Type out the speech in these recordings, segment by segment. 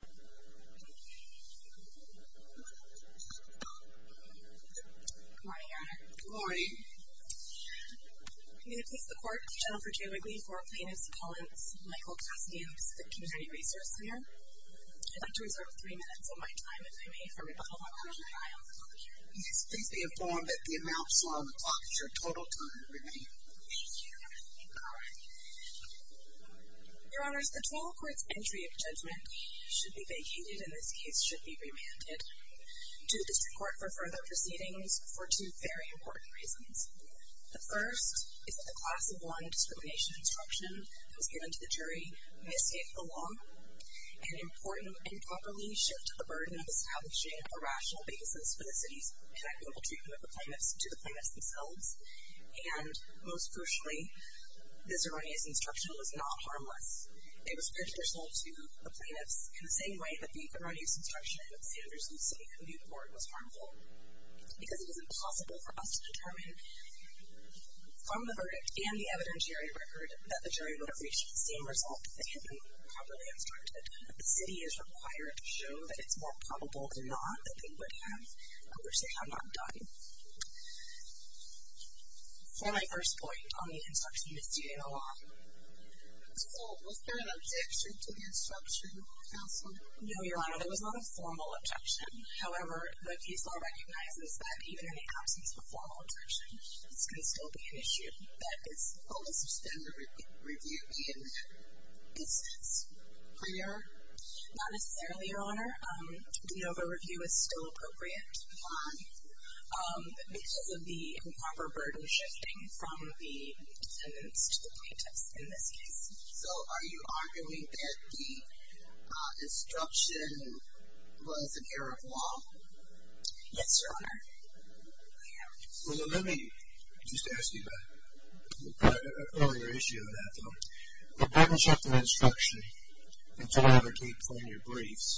Good morning, Your Honor. Good morning. I'm going to please the Court of General Virginia Wrigley for a Plaintiff's Appellant, Michael Cassidy, of the Pacific Community Resource Center. I'd like to reserve three minutes of my time, if I may, for rebuttal. Yes, please be informed that the amounts on the clock is your total time remaining. Thank you, Your Honor. Your Honors, the twelfth Court's entry of judgment should be vacated, and in this case should be remanded to the District Court for further proceedings for two very important reasons. The first is that the Class of 1 discrimination instruction that was given to the jury may escape the law and improperly shift the burden of establishing a rational basis for the city's connectable treatment of the plaintiffs to the plaintiffs themselves. And, most crucially, this erroneous instruction was not harmless. It was prejudicial to the plaintiffs in the same way that the erroneous instruction of Sanders v. City Community Court was harmful, because it was impossible for us to determine from the verdict and the evidentiary record that the jury would have reached the same result if it had been properly instructed. The city is required to show that it's more probable than not that they would have, and we're saying I'm not done. For my first point on the instruction, it's due in the law. So, was there an objection to the instruction, Counsel? No, Your Honor, there was not a formal objection. However, the case law recognizes that even in the absence of a formal objection, it's going to still be an issue that is fully suspended or reviewed in that instance. Are you sure? Not necessarily, Your Honor. We know the review is still appropriate to move on because of the improper burden shifting from the defendants to the plaintiffs in this case. So, are you arguing that the instruction was an error of law? Yes, Your Honor, I am. Well, then let me just ask you about an earlier issue on that, though. The burden shifting instruction that you have in your briefs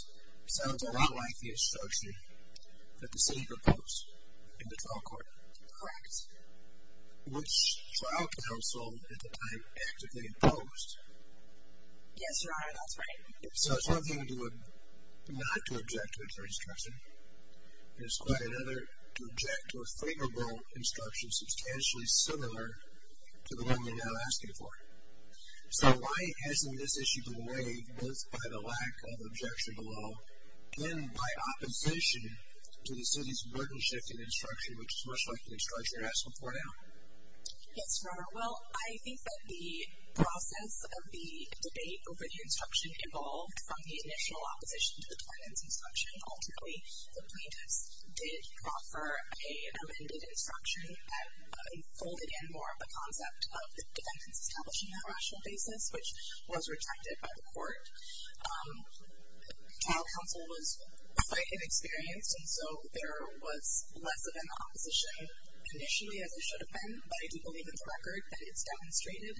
sounds a lot like the instruction that the city proposed in the trial court. Correct. Which trial counsel at the time actively opposed? Yes, Your Honor, that's right. So, it's one thing not to object to a clear instruction, and it's quite another to object to a favorable instruction substantially similar to the one you're now asking for. So, why hasn't this issue been waived, both by the lack of objection to the law and by opposition to the city's burden shifting instruction, which is much like the instruction you're asking for now? Yes, Your Honor. Well, I think that the process of the debate over the instruction involved from the initial opposition to the defendant's instruction. Ultimately, the plaintiffs did offer an amended instruction that folded in more of the concept of the defendants establishing that rational basis, which was rejected by the court. Trial counsel was quite inexperienced, and so there was less of an opposition initially, as there should have been. But I do believe in the record that it's demonstrated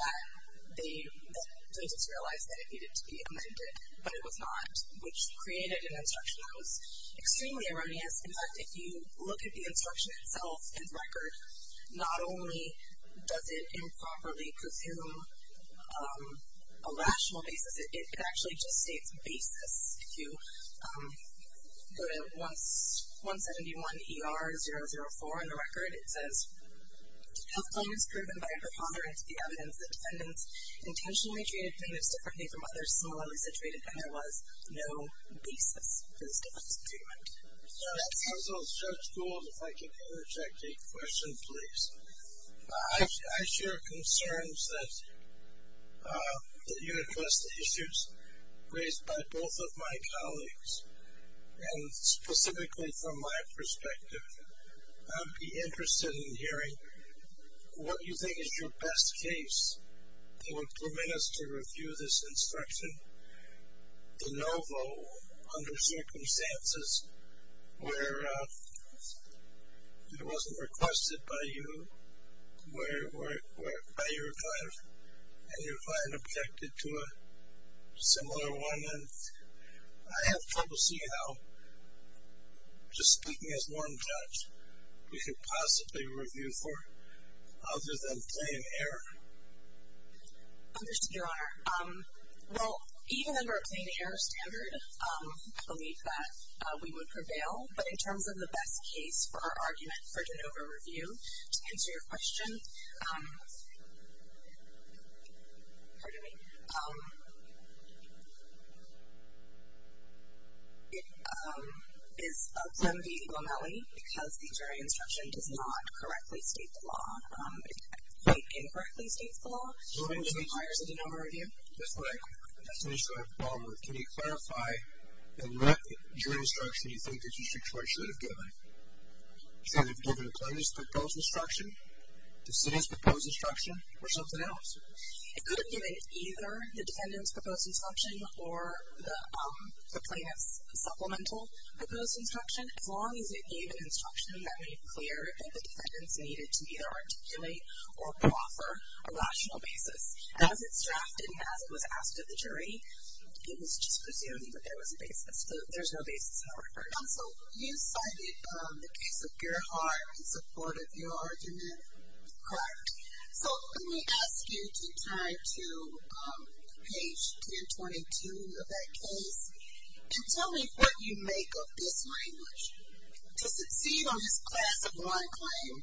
that the plaintiffs realized that it needed to be amended, but it was not, which created an instruction that was extremely erroneous. In fact, if you look at the instruction itself in the record, not only does it improperly presume a rational basis, it actually just states basis. If you go to 171 ER 004 in the record, it says, Health claim is proven by a preponderance of the evidence that defendants intentionally treated plaintiffs differently from others similarly situated, and there was no basis for this different treatment. Counsel, Judge Gould, if I could interject a question, please. I share concerns that you address the issues raised by both of my colleagues, and specifically from my perspective. I'd be interested in hearing what you think is your best case to implement us to review this instruction. The NOVO, under circumstances where it wasn't requested by you, by your client, and your client objected to a similar one. I have trouble seeing how, just speaking as norm judge, we could possibly review for it, other than plain error. Understood, Your Honor. Well, even under a plain error standard, I believe that we would prevail. But in terms of the best case for our argument for the NOVO review, to answer your question, pardon me, it is of them being Lomeli, because the jury instruction does not correctly state the law. It quite incorrectly states the law, which requires a NOVO review. That's right. That's the issue I have a problem with. Can you clarify in what jury instruction you think the district court should have given? Should they have given a plaintiff's proposed instruction, the city's proposed instruction, or something else? It could have given either the defendant's proposed instruction or the plaintiff's supplemental proposed instruction, as long as it gave an instruction that made clear that the defendants needed to either articulate or proffer a rational basis. As it's drafted and as it was asked of the jury, it was just presuming that there was a basis. There's no basis in our argument. So you cited the case of Gerhard in support of your argument? Correct. So let me ask you to turn to page 1022 of that case and tell me what you make of this language. To succeed on this class of one claim,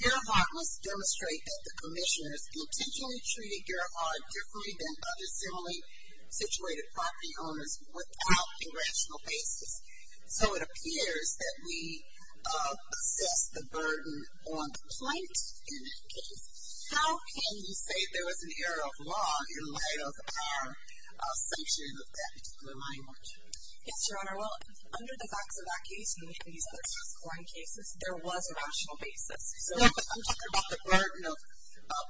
Gerhard must demonstrate that the commissioners intentionally treated Gerhard differently than other similarly situated property owners without a rational basis. So it appears that we assess the burden on the plaintiff in that case. How can you say there was an error of law in light of our assumption of that particular language? Yes, Your Honor. Well, under the facts of that case, and we can use those scoring cases, there was a rational basis. So I'm talking about the burden of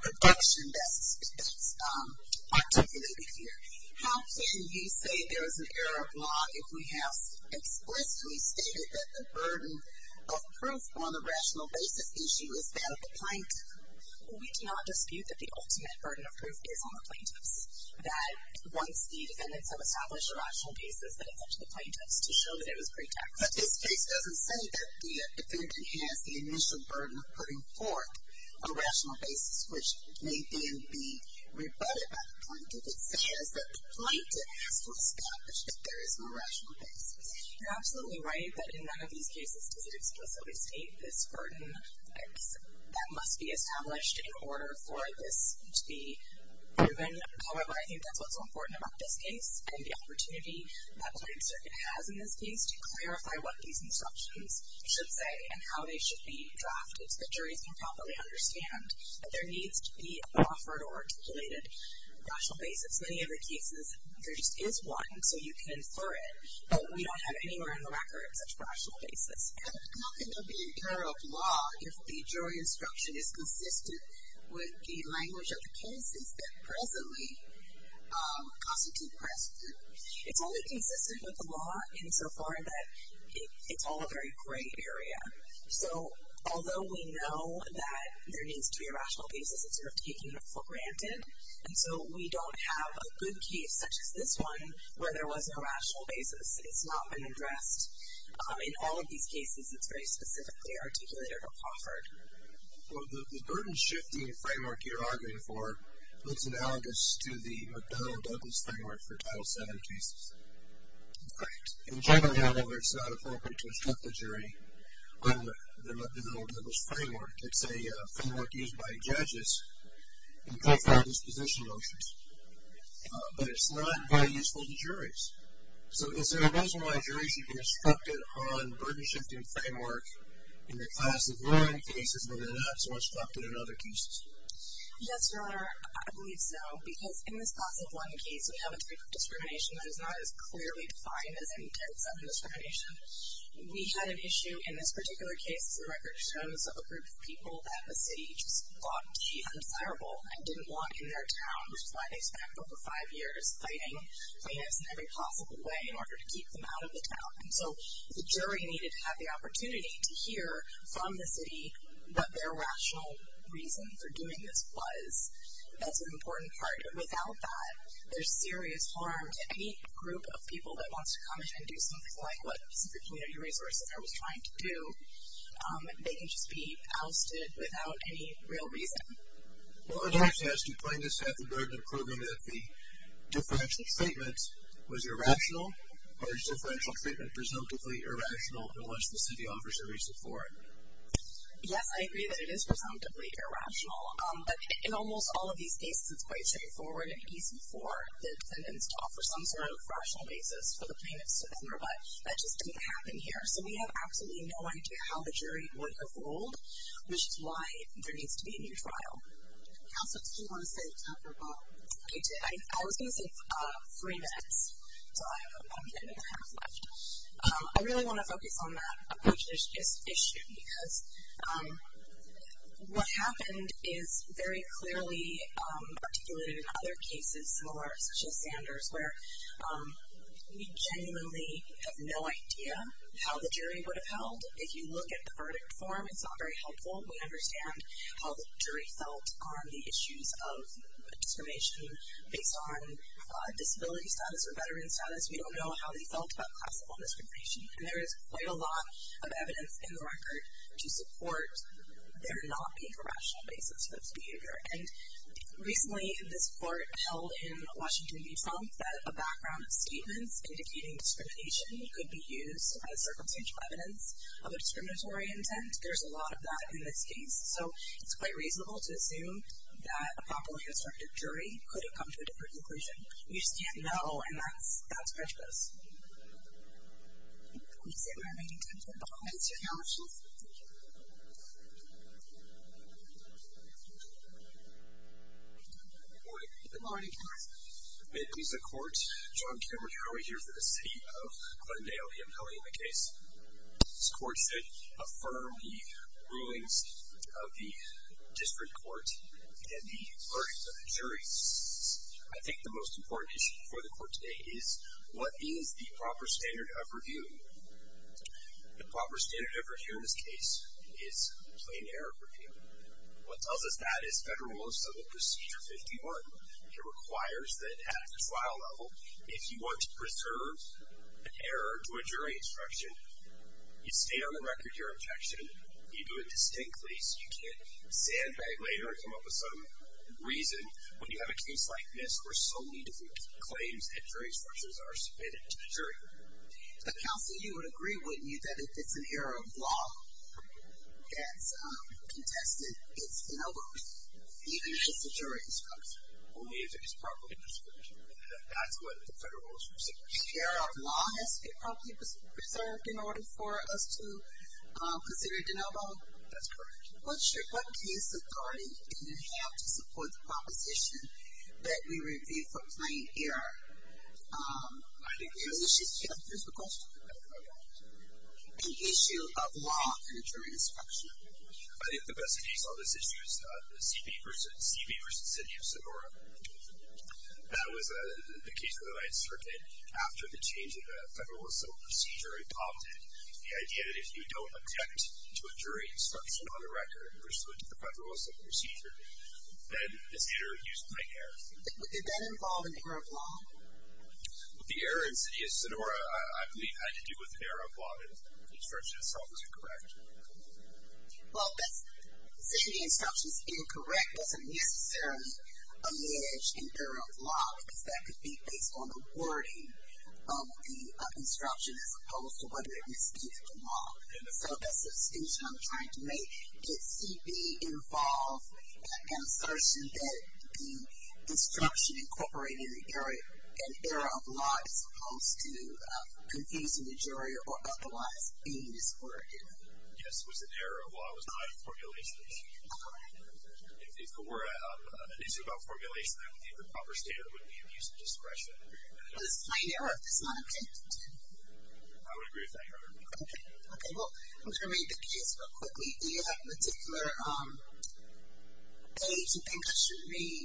protection that's articulated here. How can you say there was an error of law if we have explicitly stated that the burden of proof on the rational basis issue is that of the plaintiff? We do not dispute that the ultimate burden of proof is on the plaintiffs. That once the defendants have established a rational basis, then it's up to the plaintiffs to show that it was pretext. But this case doesn't say that the defendant has the initial burden of putting forth a rational basis, which may then be rebutted by the plaintiff. What it says is that the plaintiff has to establish that there is no rational basis. You're absolutely right that in none of these cases does it explicitly state this burden. That must be established in order for this to be proven. However, I think that's what's so important about this case and the opportunity that the Lighting Circuit has in this case to clarify what these instructions should say and how they should be drafted so that juries can properly understand that there needs to be an offered or articulated rational basis. In many other cases, there just is one, so you can infer it, but we don't have anywhere on the record such a rational basis. How can there be an error of law if the jury instruction is consistent with the language of the cases that presently constitute precedent? It's only consistent with the law insofar that it's all a very gray area. Although we know that there needs to be a rational basis, it's sort of taken for granted, and so we don't have a good case such as this one where there was no rational basis. It's not been addressed. In all of these cases, it's very specifically articulated or offered. Well, the burden-shifting framework you're arguing for looks analogous to the McDonnell-Douglas framework for Title VII cases. In general, however, it's not appropriate to instruct a jury on the McDonnell-Douglas framework. It's a framework used by judges in profound disposition motions, but it's not very useful to juries. So is there a reason why juries should be instructed on burden-shifting framework in the class of I cases when they're not so instructed in other cases? Yes, Your Honor, I believe so, because in this class of I case, we have a type of discrimination that is not as clearly defined as any Title VII discrimination. We had an issue in this particular case. The record shows a group of people that the city just thought to be undesirable and didn't want in their town, which is why they spent over five years fighting plaintiffs in every possible way in order to keep them out of the town. And so the jury needed to have the opportunity to hear from the city what their rational reason for doing this was. That's an important part. Without that, there's serious harm to any group of people that wants to come in and do something like what super community resources are always trying to do. They can just be ousted without any real reason. Well, it actually has to do, plaintiffs, have the burden of proving that the differential treatment was irrational or is differential treatment presumptively irrational unless the city offers a reason for it? Yes, I agree that it is presumptively irrational. But in almost all of these cases, it's quite straightforward and easy for the defendants to offer some sort of rational basis for the plaintiffs to enter, but that just didn't happen here. So we have absolutely no idea how the jury would have ruled, which is why there needs to be a new trial. Counsel, did you want to say a couple more? I did. I was going to say three minutes, so I have a minute and a half left. I really want to focus on that approach issue because what happened is very clearly articulated in other cases, such as Sanders, where we genuinely have no idea how the jury would have held. If you look at the verdict form, it's not very helpful. We understand how the jury felt on the issues of discrimination based on disability status or veteran status. We don't know how they felt about classical discrimination, and there is quite a lot of evidence in the record to support their not being a rational basis for this behavior. Recently, this court held in Washington v. Trump that a background of statements indicating discrimination could be used as circumstantial evidence of a discriminatory intent. There's a lot of that in this case, so it's quite reasonable to assume that a properly disruptive jury could have come to a different conclusion. We just can't know, and that's prejudice. Please stand by. I'm going to give you a moment to announce yourself. Thank you. Good morning. Good morning. May it please the Court. John Cameron Hurley here for the seat of Glenn Dale, the appellee in the case. and the verdict of the jury. I think the most important issue for the court today is what is the proper standard of review? The proper standard of review in this case is a plain error review. What tells us that is Federal Rules of Procedure 51. It requires that at a trial level, if you want to preserve an error to a jury instruction, you stay on the record of your objection, you do it distinctly so you can't sandbag later or come up with some reason. When you have a case like this where so many different claims and jury instructions are submitted to the jury. The counsel, you would agree, wouldn't you, that if it's an error of law that's contested, it's de novo even if it's a jury instruction? Only if it's properly prescribed. That's what the Federal Rules of Procedure. If the error of law has to be properly preserved in order for us to consider it de novo? That's correct. What case authority do you have to support the proposition that we review for plain error? I think... Let me just ask you a physical question. Okay. An issue of law in a jury instruction. I think the best case on this issue is the CB v. City of Sonora. That was the case that I instructed after the change in the Federal Rules of Procedure and prompted the idea that if you don't object to a jury instruction on the record pursuant to the Federal Rules of Procedure, then this error is plain error. Did that involve an error of law? The error in City of Sonora, I believe, had to do with an error of law. The instruction itself was incorrect. Well, that's... Saying the instruction's incorrect doesn't necessarily allege an error of law because that could be based on the wording of the instruction as opposed to whether it was executed in law. So that's the distinction I'm trying to make. Did CB involve an assertion that the instruction incorporated an error of law as opposed to confusing the jury or otherwise being discorded? Yes, it was an error of law. It was not a formulation issue. If it were an issue about formulation, I would think the proper standard would be abuse of discretion. I would agree with that, Your Honor. Okay, well, I'm going to read the case real quickly. Do you have a particular page you think I should read?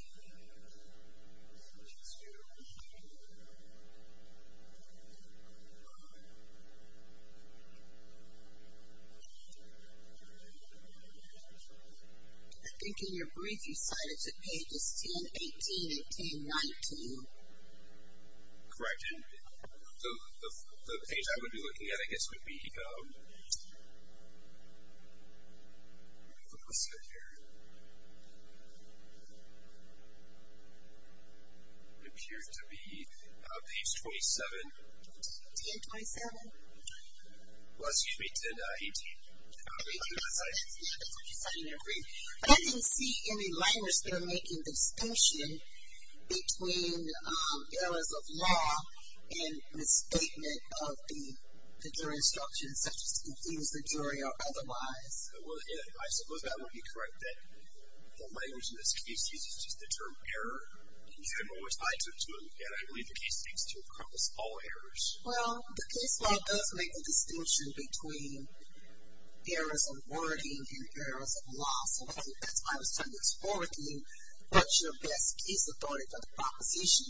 I think in your brief you cited the pages 1018 and 1019. Correct. So the page I would be looking at, I guess, would be... Let me look this up here. It appears to be page 27. 1027? Well, excuse me, 1018. Yeah, that's what you cited in your brief. But I didn't see any liners that are making the distinction between errors of law and misstatement of the jury instruction such as to confuse the jury or otherwise. Well, I suppose that would be correct, that the language in this case uses just the term error. And you have always lied to it, too. And I believe the case seeks to encompass all errors. Well, the case law does make the distinction between errors of wording and errors of law. So that's why I was trying to explore with you what's your best case authority for the proposition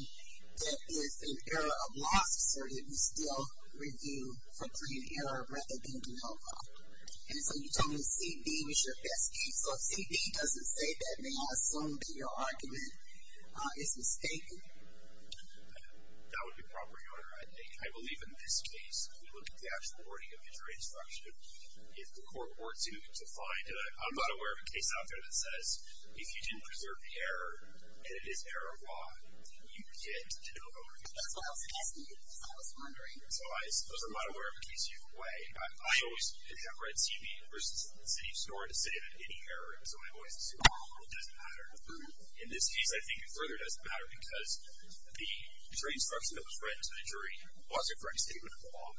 that if an error of law is asserted, we still review for plain error rather than denial of law. And so you told me CD was your best case. So if CD doesn't say that, may I assume that your argument is mistaken? That would be proper, Your Honor. I believe in this case, if we look at the actual wording of the jury instruction, if the court were to find... I'm not aware of a case out there that says if you didn't preserve the error, and it is error of law, you get a denial of overview. That's what I was asking you, because I was wondering. So I suppose I'm not aware of a case you've played. I always have read CD versus the CD score to say that any error is always a CD score. It doesn't matter. In this case, I think it further doesn't matter because the jury instruction that was read to the jury wasn't for any statement of law.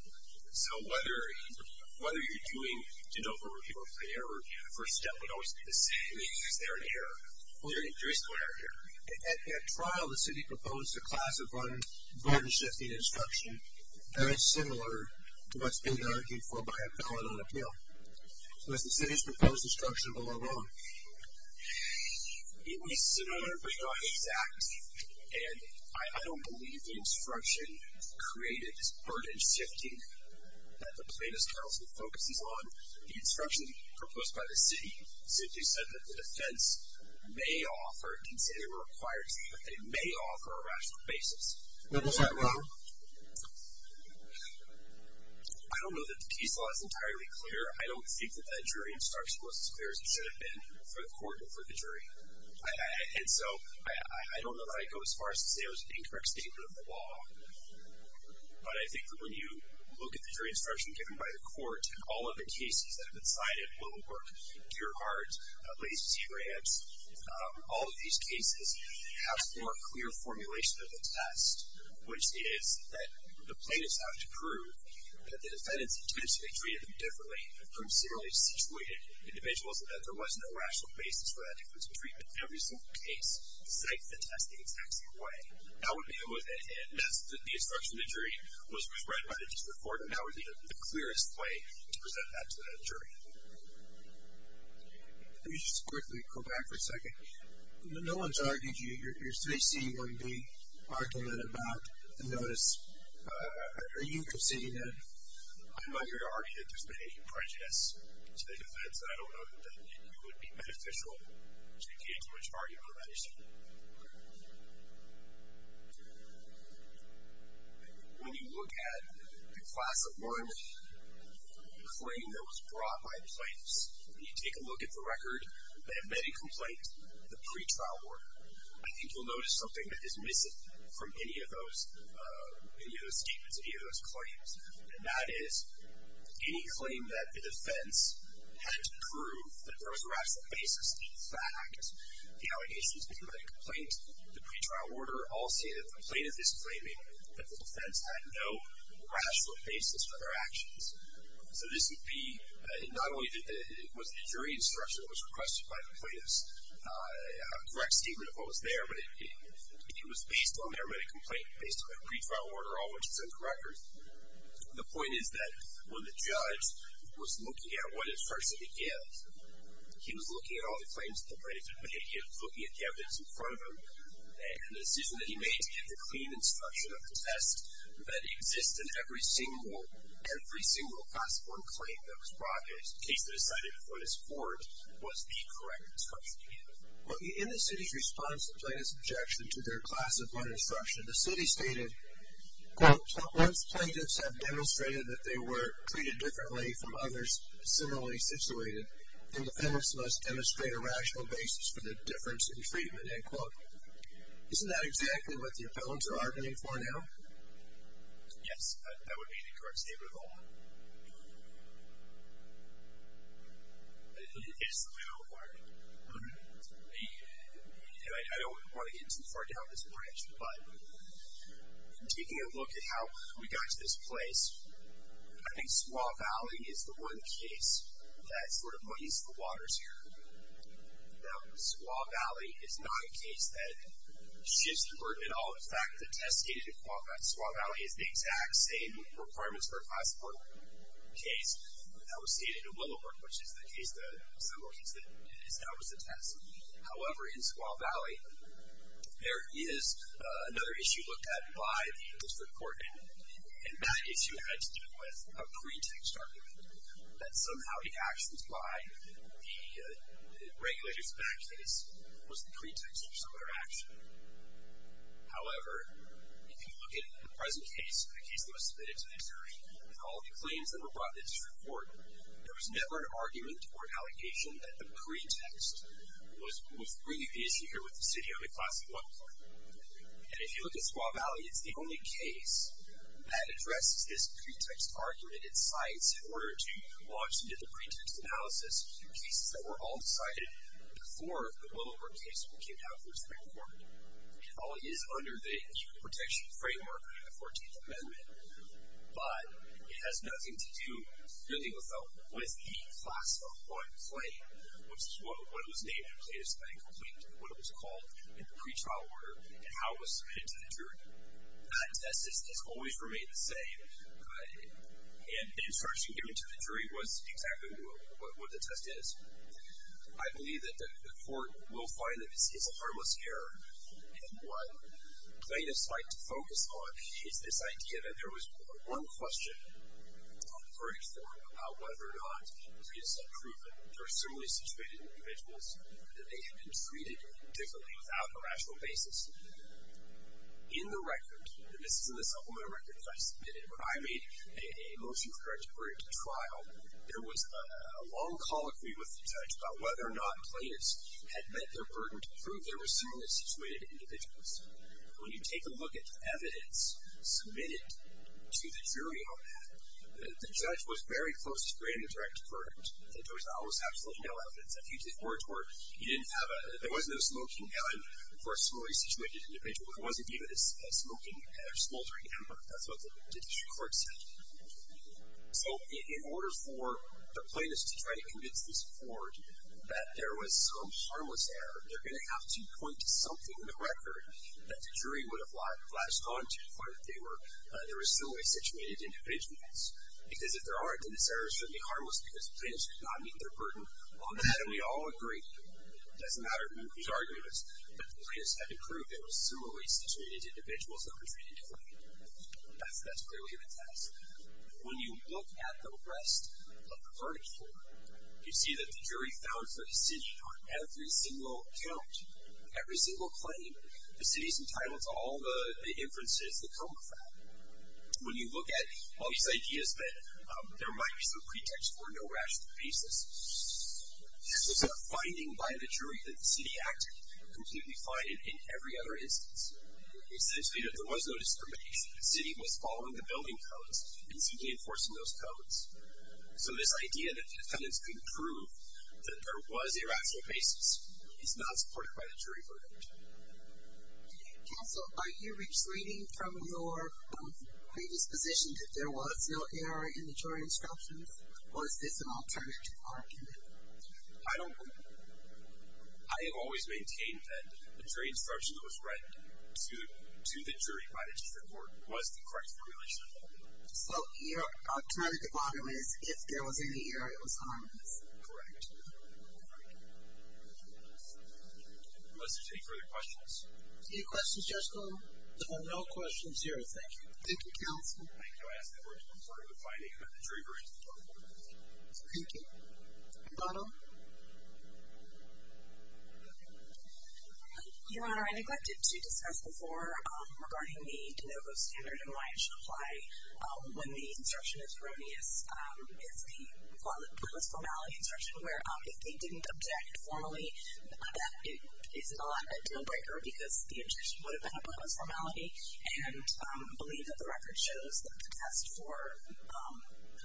So whether you're doing denial of overview or plain error, the first step would always be the same. Is there an error? Well, there is no error here. At trial, the city proposed a class of unburden-shifting instruction very similar to what's been argued for by a felon on appeal. So has the city's proposed instruction been wrong? It was similar, but not exact. And I don't believe the instruction created this burden-shifting that the plaintiff's counsel focuses on. The instruction proposed by the city simply said that the defense may offer, it didn't say they were required to, but they may offer a rational basis. What was that about? I don't know that the case law is entirely clear. I don't think that that jury instruction was as clear as it should have been for the court and for the jury. And so I don't know that I'd go as far as to say it was an incorrect statement of the law. But I think that when you look at the jury instruction given by the court, all of the cases that have been cited, Willowbrook, Gearhart, Lacey, Grants, all of these cases have a more clear formulation of the test, which is that the plaintiffs have to prove that the defendants intentionally treated them differently from similarly situated individuals, and that there was no rational basis for that difference in treatment in every single case. Cite the test the exact same way. That would be it with it. And that's the instruction the jury was read by the district court, but now we need the clearest way to present that to the jury. Let me just quickly go back for a second. No one's argued you. Your 3C1B argument about the notice, are you conceding that? I'm not going to argue that there's been any prejudice to the defense, and I don't know that it would be beneficial to give too much argument about it. When you look at the Class of March claim that was brought by the plaintiffs, when you take a look at the record, they have made a complaint in the pretrial order. I think you'll notice something that is missing from any of those statements, any of those claims, and that is any claim that the defense had to prove that there was a rational basis. In fact, the allegations made by the complaint, the pretrial order, all say that the plaintiff is claiming that the defense had no rational basis for their actions. So this would be, not only was it a jury instruction that was requested by the plaintiffs, a direct statement of what was there, but it was based on their made a complaint based on their pretrial order, all which is uncorrected. The point is that when the judge was looking at what instruction to give, he was looking at all the claims that the plaintiffs had made, he was looking at the evidence in front of him, and the decision that he made to give a clean instruction of the test that exists in every single, every single Class 1 claim that was brought, the case that decided to put us forward, was the correct instruction to give. In the city's response to the plaintiff's objection to their Class of March instruction, the city stated, quote, once plaintiffs have demonstrated that they were treated differently from others similarly situated, defendants must demonstrate a rational basis for their difference in treatment, end quote. Isn't that exactly what the appellants are arguing for now? Yes, that would be the correct statement of the law. It is the legal argument. I don't want to get too far down this branch, but taking a look at how we got to this place, I think Squaw Valley is the one case that sort of monies the waters here. Now, Squaw Valley is not a case that shifts the burden at all. In fact, the test stated in Squaw Valley is the exact same requirements for a Class 4 case that was stated in Willowbrook, which is the case, the similar case that is now is the test. However, in Squaw Valley, there is another issue looked at by the District Court, and that issue had to do with a pretext argument that somehow the actions by the regulators in that case was the pretext for some other action. However, if you look at the present case, the case that was submitted to the District, and all the claims that were brought to the District Court, there was never an argument or an allegation that the pretext was really the issue here with the city or the Class 1 claim. And if you look at Squaw Valley, it's the only case that addresses this pretext argument and cites in order to launch into the pretext analysis a few cases that were all decided before the Willowbrook case came down to the District Court. It all is under the human protection framework of the 14th Amendment, but it has nothing to do, really, with the Class 1 claim, which is what it was named, what it was called in the pretrial order, and how it was submitted to the Jury. That test has always remained the same, and the instruction given to the Jury was exactly what the test is. I believe that the Court will find that this is a harmless error, and what plaintiffs like to focus on is this idea that there was one question on the verdict floor about whether or not there were similarly situated individuals that they had been treated differently without a rational basis. In the record, and this is in the supplement record that I submitted, when I made a motion for a direct verdict at trial, there was a long colloquy with the judge about whether or not plaintiffs had met their burden to prove there were similarly situated individuals. When you take a look at the evidence submitted to the Jury on that, the judge was very close to creating a direct verdict that there was absolutely no evidence of hugely poor tort. There was no smoking gun for a similarly situated individual. There wasn't even a smoking or smoldering hammer. That's what the Judiciary Court said. So in order for the plaintiffs to try to convince this Court that there was some harmless error, they're going to have to point to something in the record that the Jury would have latched onto to find that there were similarly situated individuals, because if there aren't, then this error should be harmless because the plaintiffs did not meet their burden on that, and we all agreed, it doesn't matter who's arguing this, that the plaintiffs had to prove there were similarly situated individuals that were treated differently. That's clearly the task. When you look at the rest of the verdict form, you see that the Jury found for the city on every single count, every single claim, the city's entitled to all the inferences that come with that. When you look at all these ideas that there might be some pretext for no rational basis, there's a finding by the Jury that the city acted completely fine in every other instance. Essentially, there was no discrimination. The city was following the building codes and simply enforcing those codes. So this idea that the defendants couldn't prove that there was a rational basis is not supported by the Jury verdict. Counsel, are you retreating from your predisposition that there was no error in the Jury instructions, or is this an alternative argument? I don't believe it. I have always maintained that the Jury instruction that was read to the Jury by the District Court was the correct formulation. So your alternative argument is, if there was any error, it was harmless. Correct. Any questions, Judge Gold? No questions here, thank you. Thank you, Counsel. Thank you. I ask that we return to the finding of the Jury verdict. Thank you. Donna? Your Honor, I neglected to discuss before regarding the de novo standard and why it should apply. When the instruction is erroneous, it's the pointless formality instruction where if they didn't object formally, that is not a deal-breaker because the instruction would have been a pointless formality. And I believe that the record shows that the test for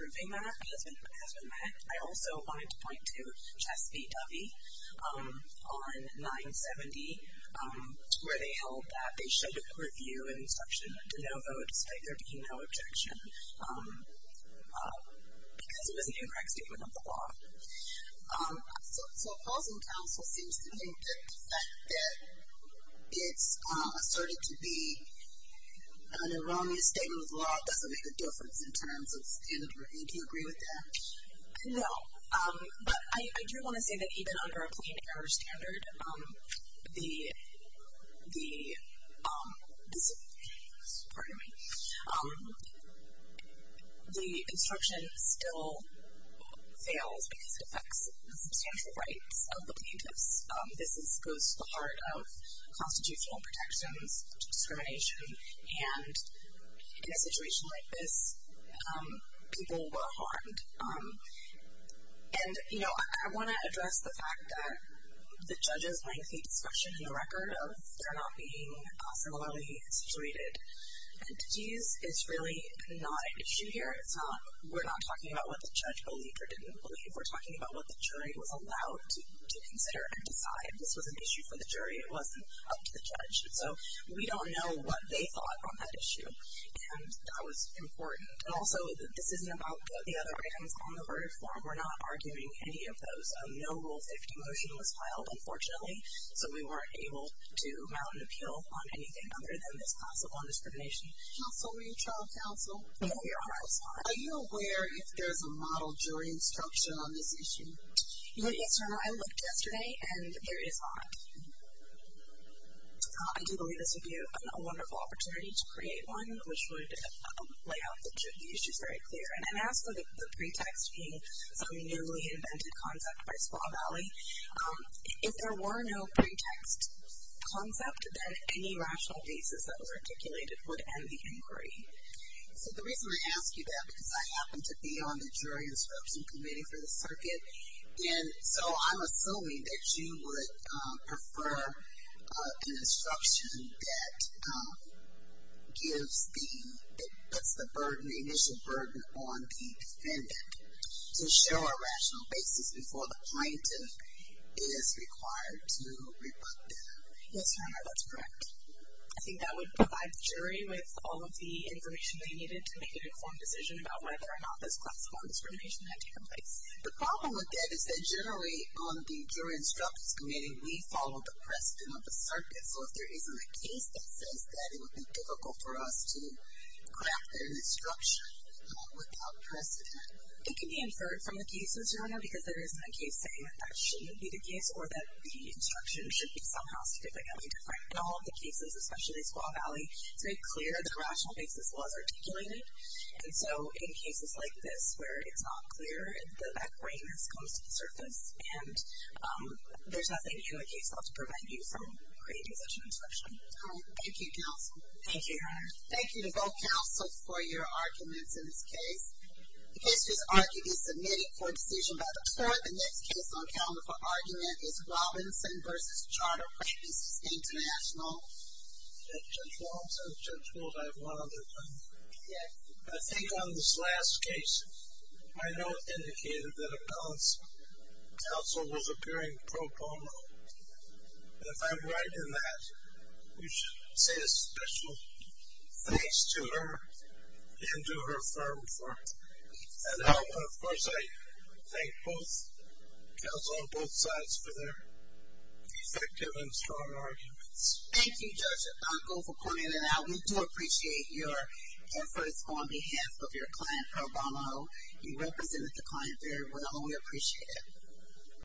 proving that has been met. I also wanted to point to Chess v. Dovey on 970, where they held that they should review an instruction de novo despite there being no objection because it was an incorrect statement of the law. So opposing counsel seems to think that the fact that it's asserted to be an erroneous statement of the law doesn't make a difference in terms of standard review. Do you agree with that? No. But I do want to say that even under a plain error standard, the instruction still fails because it affects the substantial rights of the plaintiffs. This goes to the heart of constitutional protections, discrimination, and in a situation like this, people were harmed. And, you know, I want to address the fact that the judge is going to take discretion in the record if they're not being similarly situated. And to use Israeli not an issue here. We're not talking about what the judge believed or didn't believe. We're talking about what the jury was allowed to consider and decide. This was an issue for the jury. It wasn't up to the judge. So we don't know what they thought on that issue, and that was important. Also, this isn't about the other items on the verdict form. We're not arguing any of those. No Rule 50 motion was filed, unfortunately, so we weren't able to mount an appeal on anything other than this possible indiscrimination. Counsel, are you trial counsel? We are trial counsel. Are you aware if there's a model jury instruction on this issue? Yes, Your Honor. I looked yesterday, and here it is not. I do believe this would be a wonderful opportunity to create one which would lay out the issues very clear. And as for the pretext being some newly invented concept by Squaw Valley, if there were no pretext concept, then any rational basis that was articulated would end the inquiry. So the reason I ask you that, because I happen to be on the jury instruction committee for the circuit, and so I'm assuming that you would prefer an instruction that gives the, that puts the initial burden on the defendant to show a rational basis before the plaintiff is required to rebut them. Yes, Your Honor, that's correct. I think that would provide the jury with all of the information they needed to make an informed decision about whether or not this possible indiscrimination had taken place. The problem with that is that generally on the jury instruction committee, we follow the precedent of the circuit. So if there isn't a case that says that, it would be difficult for us to craft an instruction without precedent. It can be inferred from the cases, Your Honor, because there isn't a case saying that shouldn't be the case or that the instruction should be somehow significantly different. In all of the cases, especially in Squaw Valley, it's very clear that a rational basis was articulated. And so in cases like this where it's not clear, that grain has come to the surface, and there's nothing in the case law to prevent you from creating such an instruction. Thank you, counsel. Thank you, Your Honor. Thank you to both counsel for your arguments in this case. The case was argued and submitted for a decision by the court. The next case on the calendar for argument is Robinson v. Charter Practices International. Judge Walton. Judge Walton, I have one other thing. Yes. I think on this last case, my note indicated that a balance counsel was appearing pro bono. And if I'm right in that, we should say a special thanks to her and to her firm for that help. And, of course, I thank both counsel on both sides for their effective and strong arguments. Thank you, Judge Otago, for pointing that out. We do appreciate your efforts on behalf of your client, pro bono. You represented the client very well. We appreciate it.